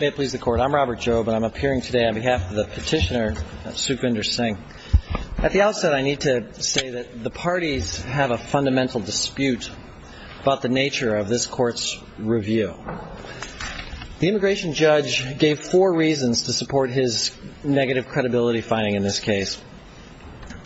I'm Robert Jobe and I'm appearing today on behalf of the petitioner Sukhvinder Singh. At the outset I need to say that the parties have a fundamental dispute about the nature of this court's review. The immigration judge gave four reasons to support his negative credibility finding in this case.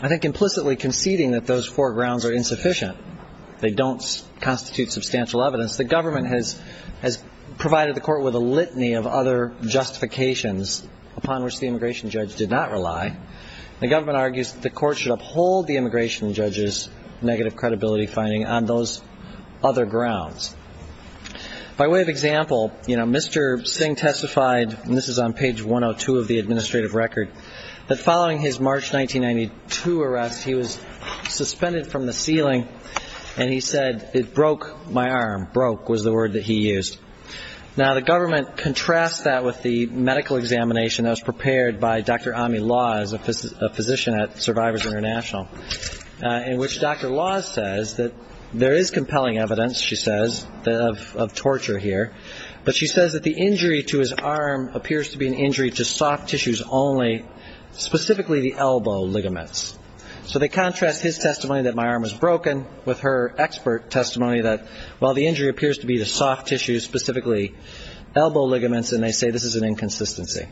I think implicitly conceding that those four grounds are insufficient. They don't constitute substantial evidence. The government has provided the court with a litany of other justifications upon which the immigration judge did not rely. The government argues that the court should uphold the immigration judge's negative credibility finding on those other grounds. By way of example, Mr. Singh testified, and this is on page 102 of the administrative record, that following his March 1992 arrest he was on the ceiling and he said, it broke my arm. Broke was the word that he used. Now the government contrasts that with the medical examination that was prepared by Dr. Ami Laws, a physician at Survivors International, in which Dr. Laws says that there is compelling evidence, she says, of torture here, but she says that the injury to his arm appears to be an injury to soft tissues only, specifically the elbow ligaments. So they contrast his testimony that my arm was broken with her expert testimony that, well, the injury appears to be the soft tissues, specifically elbow ligaments, and they say this is an inconsistency.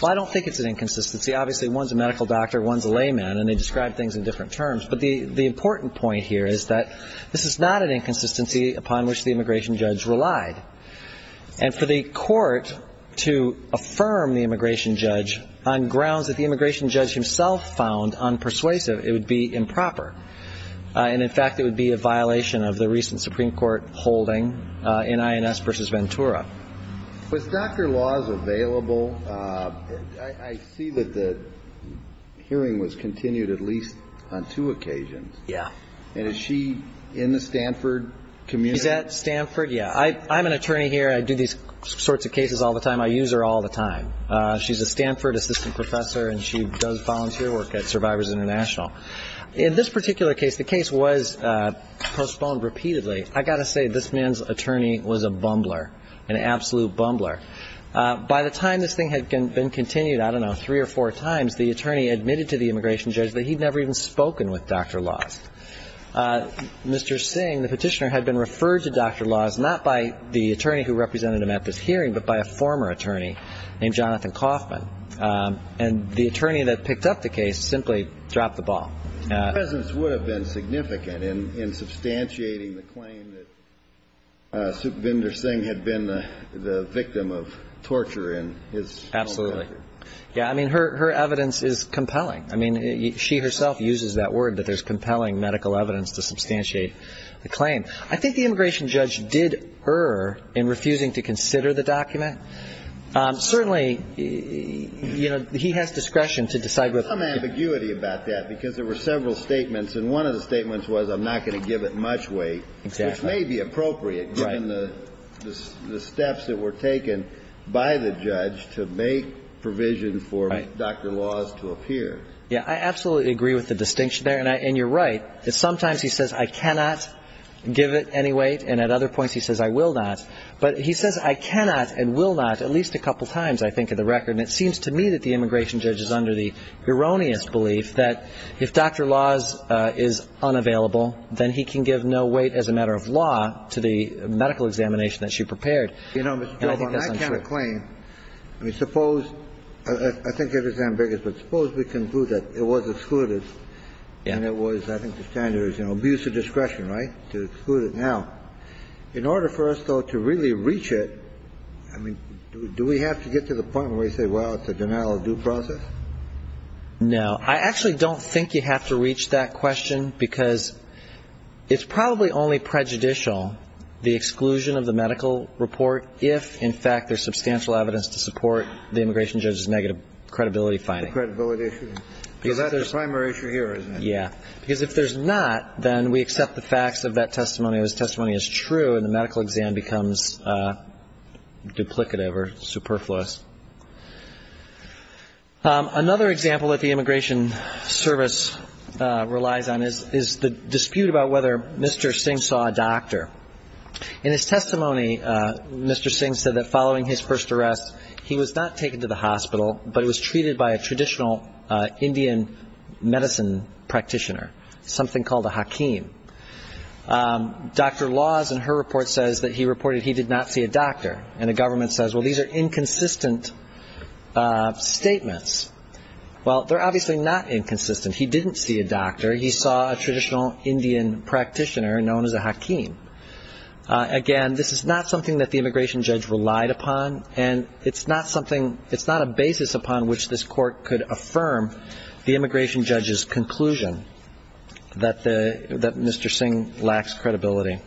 Well, I don't think it's an inconsistency. Obviously, one's a medical doctor, one's a layman, and they describe things in different terms. But the important point here is that this is not an inconsistency upon which the immigration judge relied. And for the court to affirm the immigration judge on grounds that the immigration judge himself found unpersuasive, it would be improper. And, in fact, it would be a violation of the recent Supreme Court holding in INS v. Ventura. Was Dr. Laws available? I see that the hearing was continued at least on two occasions. Yeah. And is she in the Stanford community? She's at Stanford, yeah. I'm an attorney here. I do these sorts of cases all the time. I use her all the time. She's a Stanford assistant professor and she does volunteer work at Survivors International. In this particular case, the case was postponed repeatedly. I got to say this man's attorney was a bumbler, an absolute bumbler. By the time this thing had been continued, I don't know, three or four times, the attorney admitted to the immigration judge that he'd never even spoken with Dr. Laws. Mr. Singh, the petitioner, had been referred to Dr. Laws not by the attorney who represented him at this hearing, but by a former attorney named Dr. Laws. Her presence would have been significant in substantiating the claim that Supervendor Singh had been the victim of torture in his home country. Absolutely. Yeah, I mean, her evidence is compelling. I mean, she herself uses that word that there's compelling medical evidence to substantiate the claim. I think the immigration judge did err in refusing to consider the document. Certainly, you know, he has discretion to decide whether to... There was some ambiguity about that, because there were several statements, and one of the statements was, I'm not going to give it much weight, which may be appropriate given the steps that were taken by the judge to make provision for Dr. Laws to appear. Yeah, I absolutely agree with the distinction there, and you're right, that sometimes he says, I cannot give it any weight, and at other points he says, I will not. But he says, I cannot and will not at least a couple of times, I think, in the record, and it seems to me that the immigration judge is under the erroneous belief that if Dr. Laws is unavailable, then he can give no weight as a matter of law to the medical examination that she prepared. You know, Mr. Chilton, that kind of claim, I mean, suppose, I think it is ambiguous, but suppose we conclude that it was excluded, and it was, I think the standard is, you know, abuse of discretion, right, to exclude it now. In order for us, though, to really reach it, I mean, do we have to get to the point where we say, well, it's a denial-of-due process? No. I actually don't think you have to reach that question, because it's probably only prejudicial, the exclusion of the medical report, if, in fact, there's substantial evidence to support the immigration judge's negative credibility finding. Credibility issue. Because that's the primary issue here, isn't it? Yeah. Because if there's not, then we accept the facts of that testimony, or this testimony is true, and the medical exam becomes duplicative or superfluous. Another example that the Immigration Service relies on is the dispute about whether Mr. Singh saw a doctor. In his testimony, Mr. Singh said that following his first arrest, he was not taken to the hospital, but he was treated by a traditional Indian medicine practitioner, something called a hakim. Dr. Laws, in her report, says that he reported he did not see a doctor. And the government says, well, these are inconsistent statements. Well, they're obviously not inconsistent. He didn't see a doctor. He saw a traditional Indian practitioner known as a hakim. Again, this is not something that the immigration judge relied upon, and it's not a basis upon which this court could affirm the immigration judge's conclusion that Mr. Singh lacks credibility.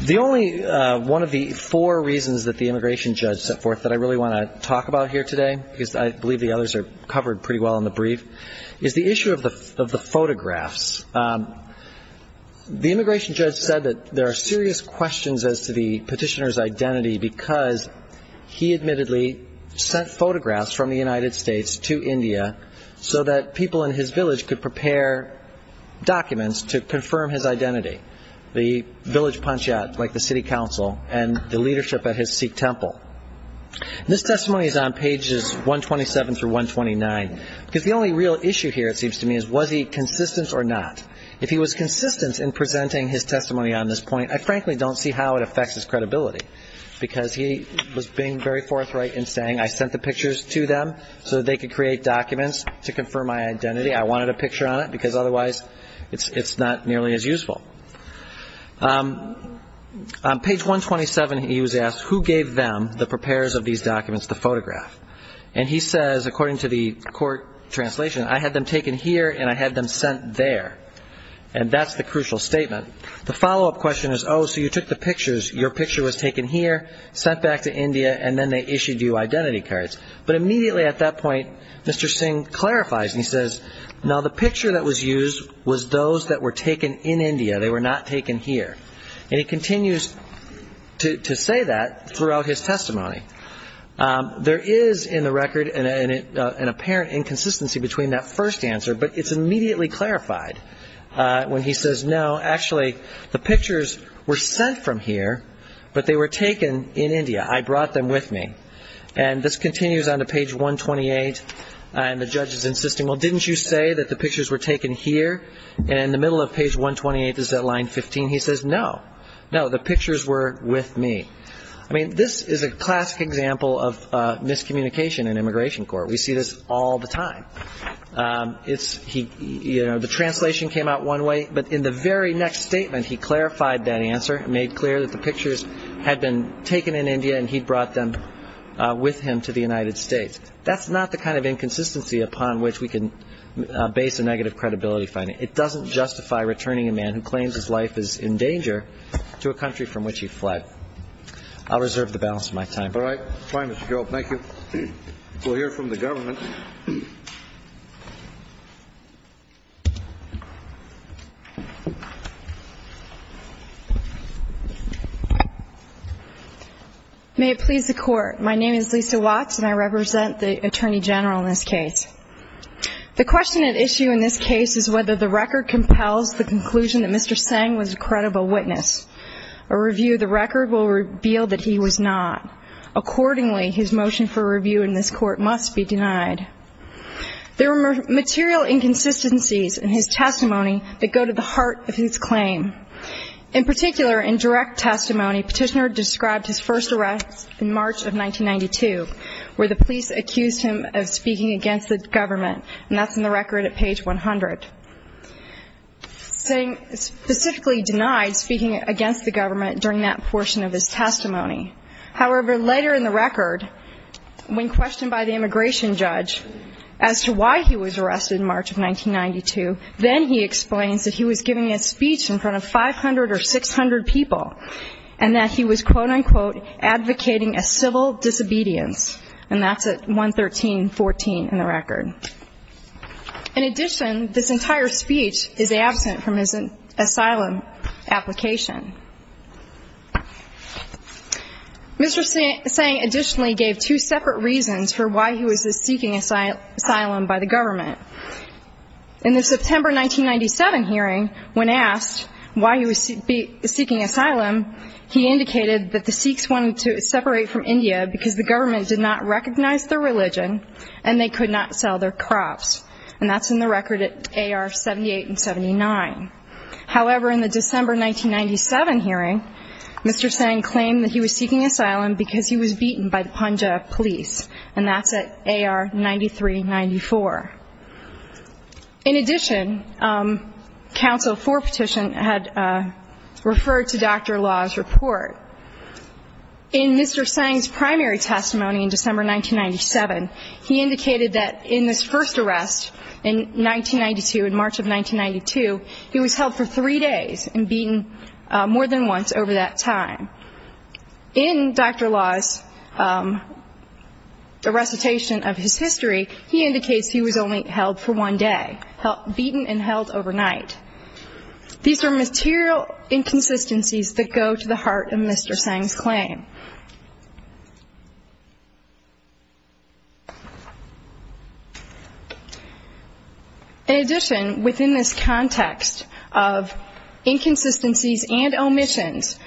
The only one of the four reasons that the immigration judge set forth that I really want to talk about here today, because I believe the others are covered pretty well in the brief, is the issue of the photographs. The immigration judge said that there are serious questions as to the petitioner's identity because he admittedly sent photographs from the United States to India so that people in his village could prepare documents to confirm his identity, the village panchayat, like the city council, and the leadership at his Sikh temple. This testimony is on pages 127 through 129, because the only real issue here, it seems to me, is was he consistent or not? If he was consistent in presenting his testimony on this point, I frankly don't see how it affects his credibility, because he was being very forthright in saying, I sent the pictures to them so that they could create documents to confirm my identity. I wanted a picture on it, because otherwise it's not nearly as useful. On page 127, he was asked, who gave them, the preparers of these documents, the photograph? And he says, according to the court translation, I had them taken here and I had them sent there. And that's the crucial statement. The follow-up question is, oh, so you took the pictures, your picture was taken here, sent back to India, and then they issued you identity cards. But immediately at that point, Mr. Singh clarifies, and he says, no, the picture that was used was those that were taken in India. They were not taken here. And he continues to say that throughout his testimony. There is, in the record, an apparent inconsistency between that first answer, but it's immediately clarified when he says, no, actually, the pictures were sent from here, but they were taken in India. I brought them with me. And this continues on to page 128, and the judge is insisting, well, didn't you say that the pictures were taken here? And in the middle of page 128, this is at line 15, he says, no, no, the pictures were with me. I mean, this is a classic example of miscommunication in immigration court. We see this all the time. It's, he, you know, the translation came out one way, but in the very next statement, he clarified that answer, made clear that the pictures had been taken in India, and he brought them with him to the United States. That's not the kind of inconsistency upon which we can base a negative credibility finding. It doesn't justify returning a man who claims his life is in danger to a country from which he fled. I'll reserve the balance of my time. All right. Fine, Mr. Job. Thank you. We'll hear from the government. May it please the Court. My name is Lisa Watts, and I represent the Attorney General in this case. The question at issue in this case is whether the record compels the conclusion that Mr. Petitioner revealed that he was not. Accordingly, his motion for review in this court must be denied. There were material inconsistencies in his testimony that go to the heart of his claim. In particular, in direct testimony, Petitioner described his first arrest in March of 1992, where the police accused him of speaking against the government, and that's in the record at page 100. Specifically denied speaking against the government during that portion of his testimony. However, later in the record, when questioned by the immigration judge as to why he was arrested in March of 1992, then he explains that he was giving a speech in front of 500 or 600 people, and that he was, quote, unquote, advocating a civil disobedience, and that's at 113.14 in the record. In addition, this entire speech is absent from his asylum application. Mr. Tseng additionally gave two separate reasons for why he was seeking asylum by the government. In the September 1997 hearing, when asked why he was seeking asylum, he indicated that the Sikhs wanted to separate from India because the government did not sell their crops, and that's in the record at AR 78 and 79. However, in the December 1997 hearing, Mr. Tseng claimed that he was seeking asylum because he was beaten by the Punjab police, and that's at AR 9394. In addition, counsel for petition had referred to Dr. Law's report. In Mr. Tseng's primary testimony in December 1997, he indicated that in this first arrest in 1992, in March of 1992, he was held for three days and beaten more than once over that time. In Dr. Law's recitation of his history, he indicates he was only held for one day, beaten and held overnight. These are material inconsistencies that go to the heart of Mr. Tseng's testimony. In addition, within this context of inconsistencies and omissions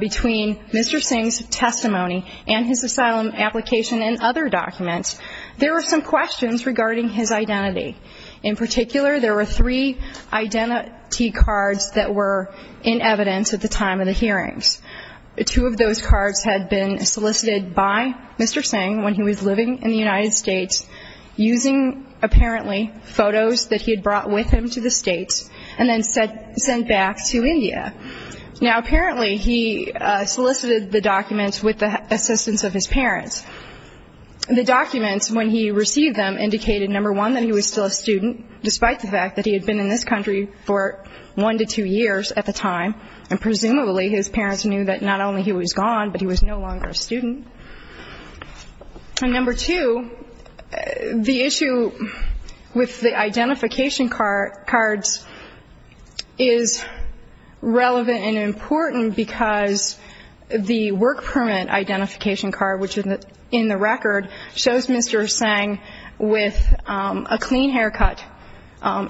between Mr. Tseng's testimony and his asylum application and other documents, there were some questions regarding his identity. In particular, there were three identity cards that were in Mr. Tseng when he was living in the United States, using, apparently, photos that he had brought with him to the States and then sent back to India. Now, apparently, he solicited the documents with the assistance of his parents. The documents, when he received them, indicated, number one, that he was still a student, despite the fact that he had been in this country for one to two years at the time, and presumably his parents knew that not only was he gone, but he was no longer a student. And number two, the issue with the identification cards is relevant and important because the work permit identification card, which is in the record, shows Mr. Tseng with a clean haircut,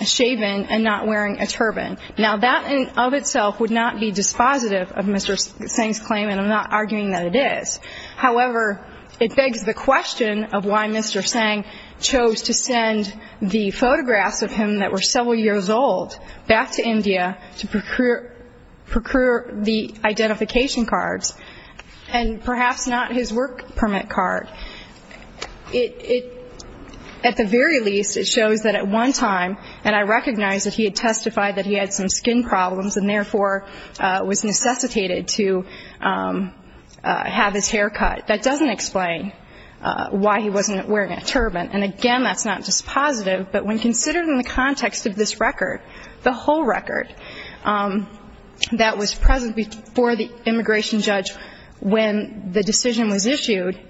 shaven, and not wearing a turban. Now, that in and of itself would not be dispositive of Mr. Tseng's claim, and I'm not arguing that it is. However, it begs the question of why Mr. Tseng chose to send the photographs of him that were several years old back to India to procure the identification cards, and perhaps not his work permit card. It, at the very least, it shows that at one time, and I recognize that he had testified that he had some skin problems and, therefore, was necessitated to have his hair cut. That doesn't explain why he wasn't wearing a turban. And, again, that's not dispositive, but when considered in the context of this record, the whole record that was present before the immigration judge when the decision was issued,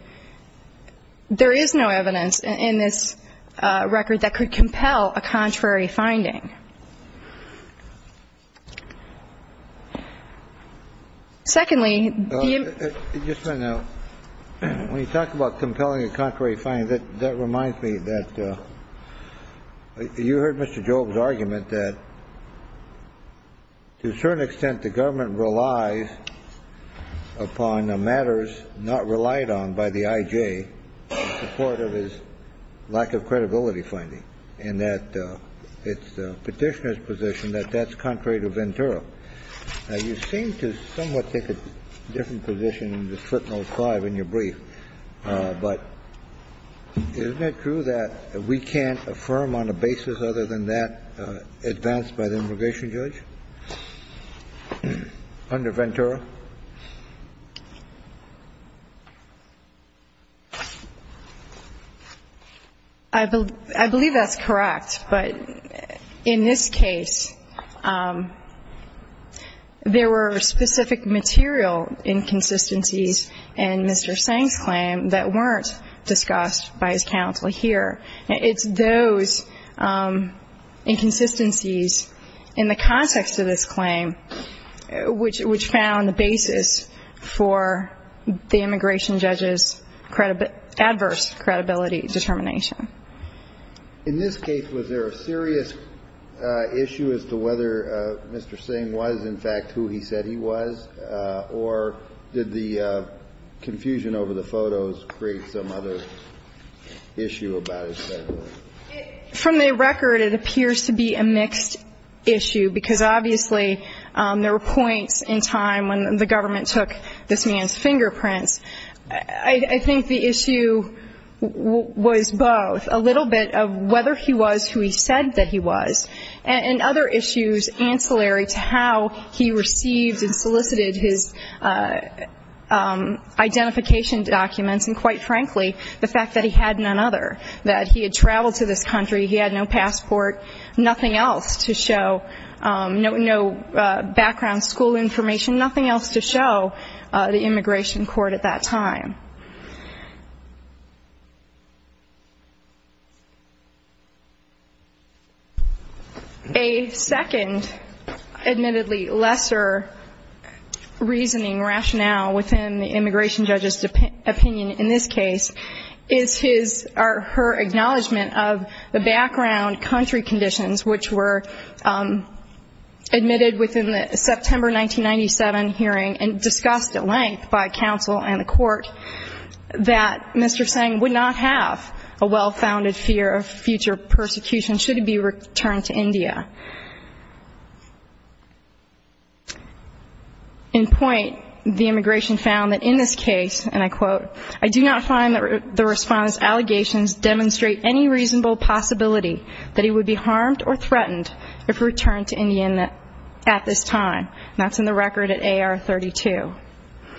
there is no evidence in this record that could compel a contrary finding. Secondly, the ---- Just a minute now. When you talk about compelling a contrary finding, that reminds me that you heard Mr. Job's argument that to a certain extent the government relies upon matters not relied on by the I.J. in support of his lack of credibility finding, and that it's the Petitioner's position that that's contrary to Ventura. Now, you seem to somewhat take a different position in this footnote 5 in your brief, but isn't it true that we can't affirm on a basis other than that advanced by the immigration judge under Ventura? I believe that's correct. But in this case, there were specific material inconsistencies in Mr. Seng's claim that weren't discussed by his counsel here. It's those inconsistencies in the context of this claim which found the basis for the immigration judge's adverse credibility determination. In this case, was there a serious issue as to whether Mr. Seng was in fact who he said he was, or did the confusion over the photos create some other issue about his claim? From the record, it appears to be a mixed issue, because obviously there were points in time when the government took this man's fingerprints. I think the issue was both, a little bit of whether he was who he said that he was, and other issues ancillary to how he received and solicited his identification documents, and quite frankly, the fact that he had none other, that he had traveled to this country, he had no passport, nothing else to show, no background school information, nothing else to show the immigration court at that time. A second admittedly lesser reasoning rationale within the immigration judge's opinion in this case is his or her acknowledgment of the background country conditions, which were admitted within the September 1997 hearing and discussed at length by counsel and the court, that Mr. Seng would not have a well-founded fear of future persecution should he be returned to India. In point, the immigration found that in this case, and I quote, I do not find that the Respondent's allegations demonstrate any reasonable possibility that he would be harmed or threatened if returned to India at this time. And that's in the record at AR 32.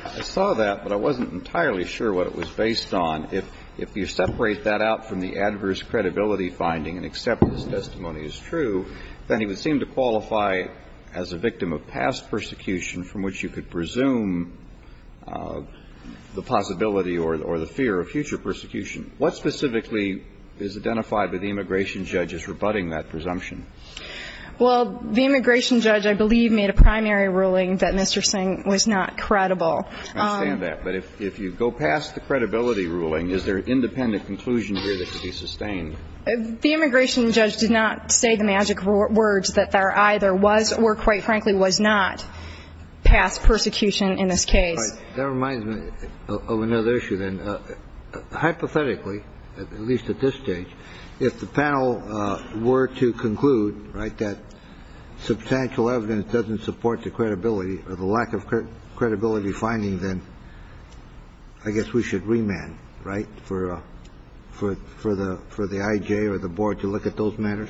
I saw that, but I wasn't entirely sure what it was based on. If you separate that out from the adverse credibility finding and accept that this testimony is true, then he would seem to qualify as a victim of past persecution from which you could presume the possibility or the fear of future persecution. What specifically is identified by the immigration judge as rebutting that presumption? Well, the immigration judge, I believe, made a primary ruling that Mr. Seng was not credible. I understand that, but if you go past the credibility ruling, is there an independent conclusion here that could be sustained? The immigration judge did not say the magic words that there either was or, quite frankly, was not past persecution in this case. That reminds me of another issue, then. Hypothetically, at least at this stage, if the panel were to conclude, right, that substantial evidence doesn't support the credibility or the lack of credibility finding, then I guess we should remand, right, for the I.J. or the board to look at those matters?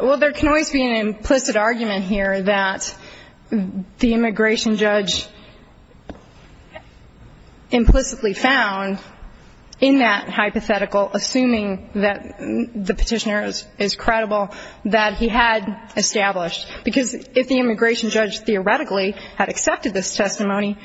Well, there can always be an implicit argument here that the immigration judge implicitly found in that hypothetical, assuming that the petitioner is credible, that he had established. Because if the immigration judge theoretically had accepted this testimony,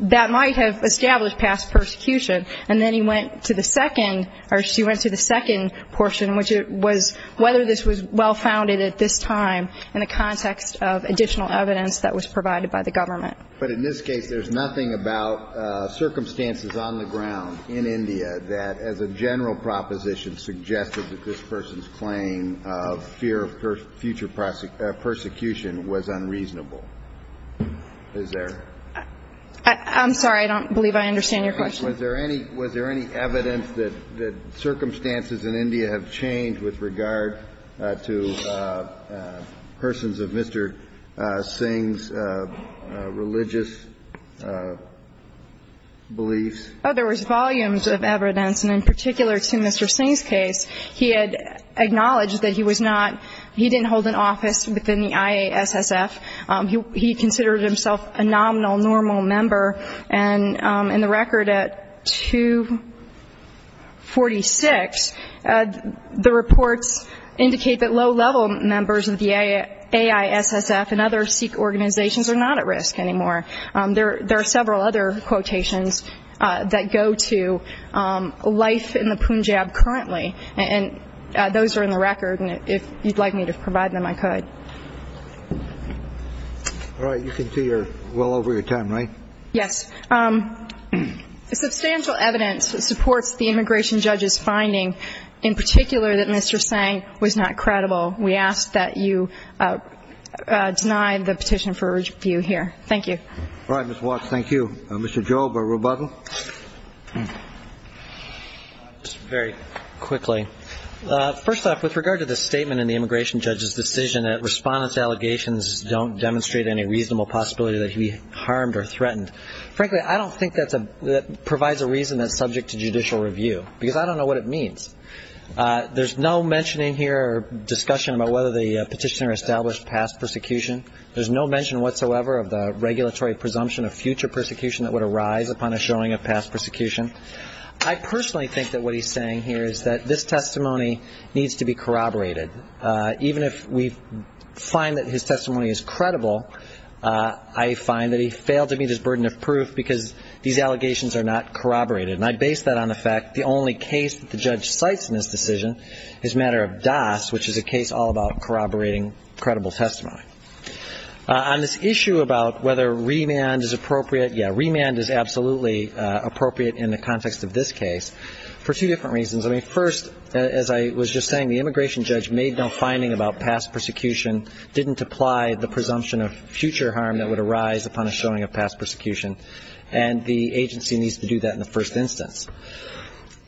that might have established past persecution. And then he went to the second or she went to the second portion, which was whether this was well-founded at this time in the context of additional evidence that was provided by the government. But in this case, there's nothing about circumstances on the ground in India that, as a general proposition, suggested that this person's claim of fear of future persecution was unreasonable. Is there? I'm sorry. I don't believe I understand your question. Was there any evidence that circumstances in India have changed with regard to persons of Mr. Singh's religious beliefs? Oh, there was volumes of evidence. And in particular to Mr. Singh's case, he had acknowledged that he was not, he didn't hold an office within the IASSF. He considered himself a nominal, normal member. And in the record at 246, the reports indicate that low-level members of the AISSF and other Sikh organizations are not at risk anymore. There are several other quotations that go to life in the Punjab currently. And those are in the record. And if you'd like me to provide them, I could. All right. You can see you're well over your time, right? Yes. Substantial evidence supports the immigration judge's finding, in particular that Mr. Singh was not credible. We ask that you deny the petition for review here. Thank you. All right, Ms. Watts. Thank you. Mr. Job, a rebuttal? Just very quickly. First off, with regard to the statement in the immigration judge's decision that respondents' allegations don't demonstrate any reasonable possibility that he harmed or threatened, frankly I don't think that provides a reason that's subject to judicial review because I don't know what it means. There's no mention in here or discussion about whether the petitioner established past persecution. There's no mention whatsoever of the regulatory presumption of future persecution that would arise upon a showing of past persecution. I personally think that what he's saying here is that this testimony needs to be corroborated. Even if we find that his testimony is credible, I find that he failed to meet his burden of proof because these allegations are not corroborated. And I base that on the fact the only case that the judge cites in this decision is matter of DOS, which is a case all about corroborating credible testimony. On this issue about whether remand is appropriate, yeah, remand is absolutely appropriate in the context of this case for two different reasons. I mean, first, as I was just saying, the immigration judge made no finding about past persecution, didn't apply the presumption of future harm that would arise upon a showing of past persecution, and the agency needs to do that in the first instance.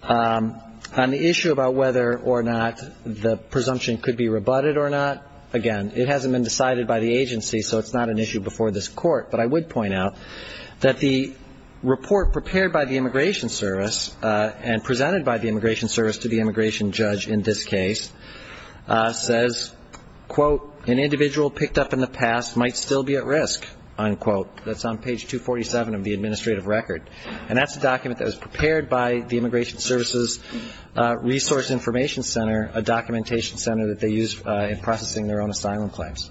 On the issue about whether or not the presumption could be rebutted or not, again, it hasn't been decided by the agency so it's not an issue before this court, but I would point out that the report prepared by the Immigration Service and presented by the Immigration Service to the immigration judge in this case says, quote, an individual picked up in the past might still be at risk, unquote. That's on page 247 of the administrative record. And that's a document that was prepared by the Immigration Service's Resource Information Center, a documentation center that they use in processing their own asylum claims.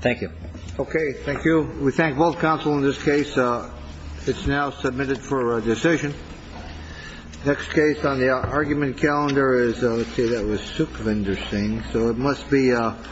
Thank you. Okay. Thank you. We thank both counsel in this case. It's now submitted for decision. Next case on the argument calendar is, let's see, that was Sukhvinder Singh. So it must be Sukhvinder Singh.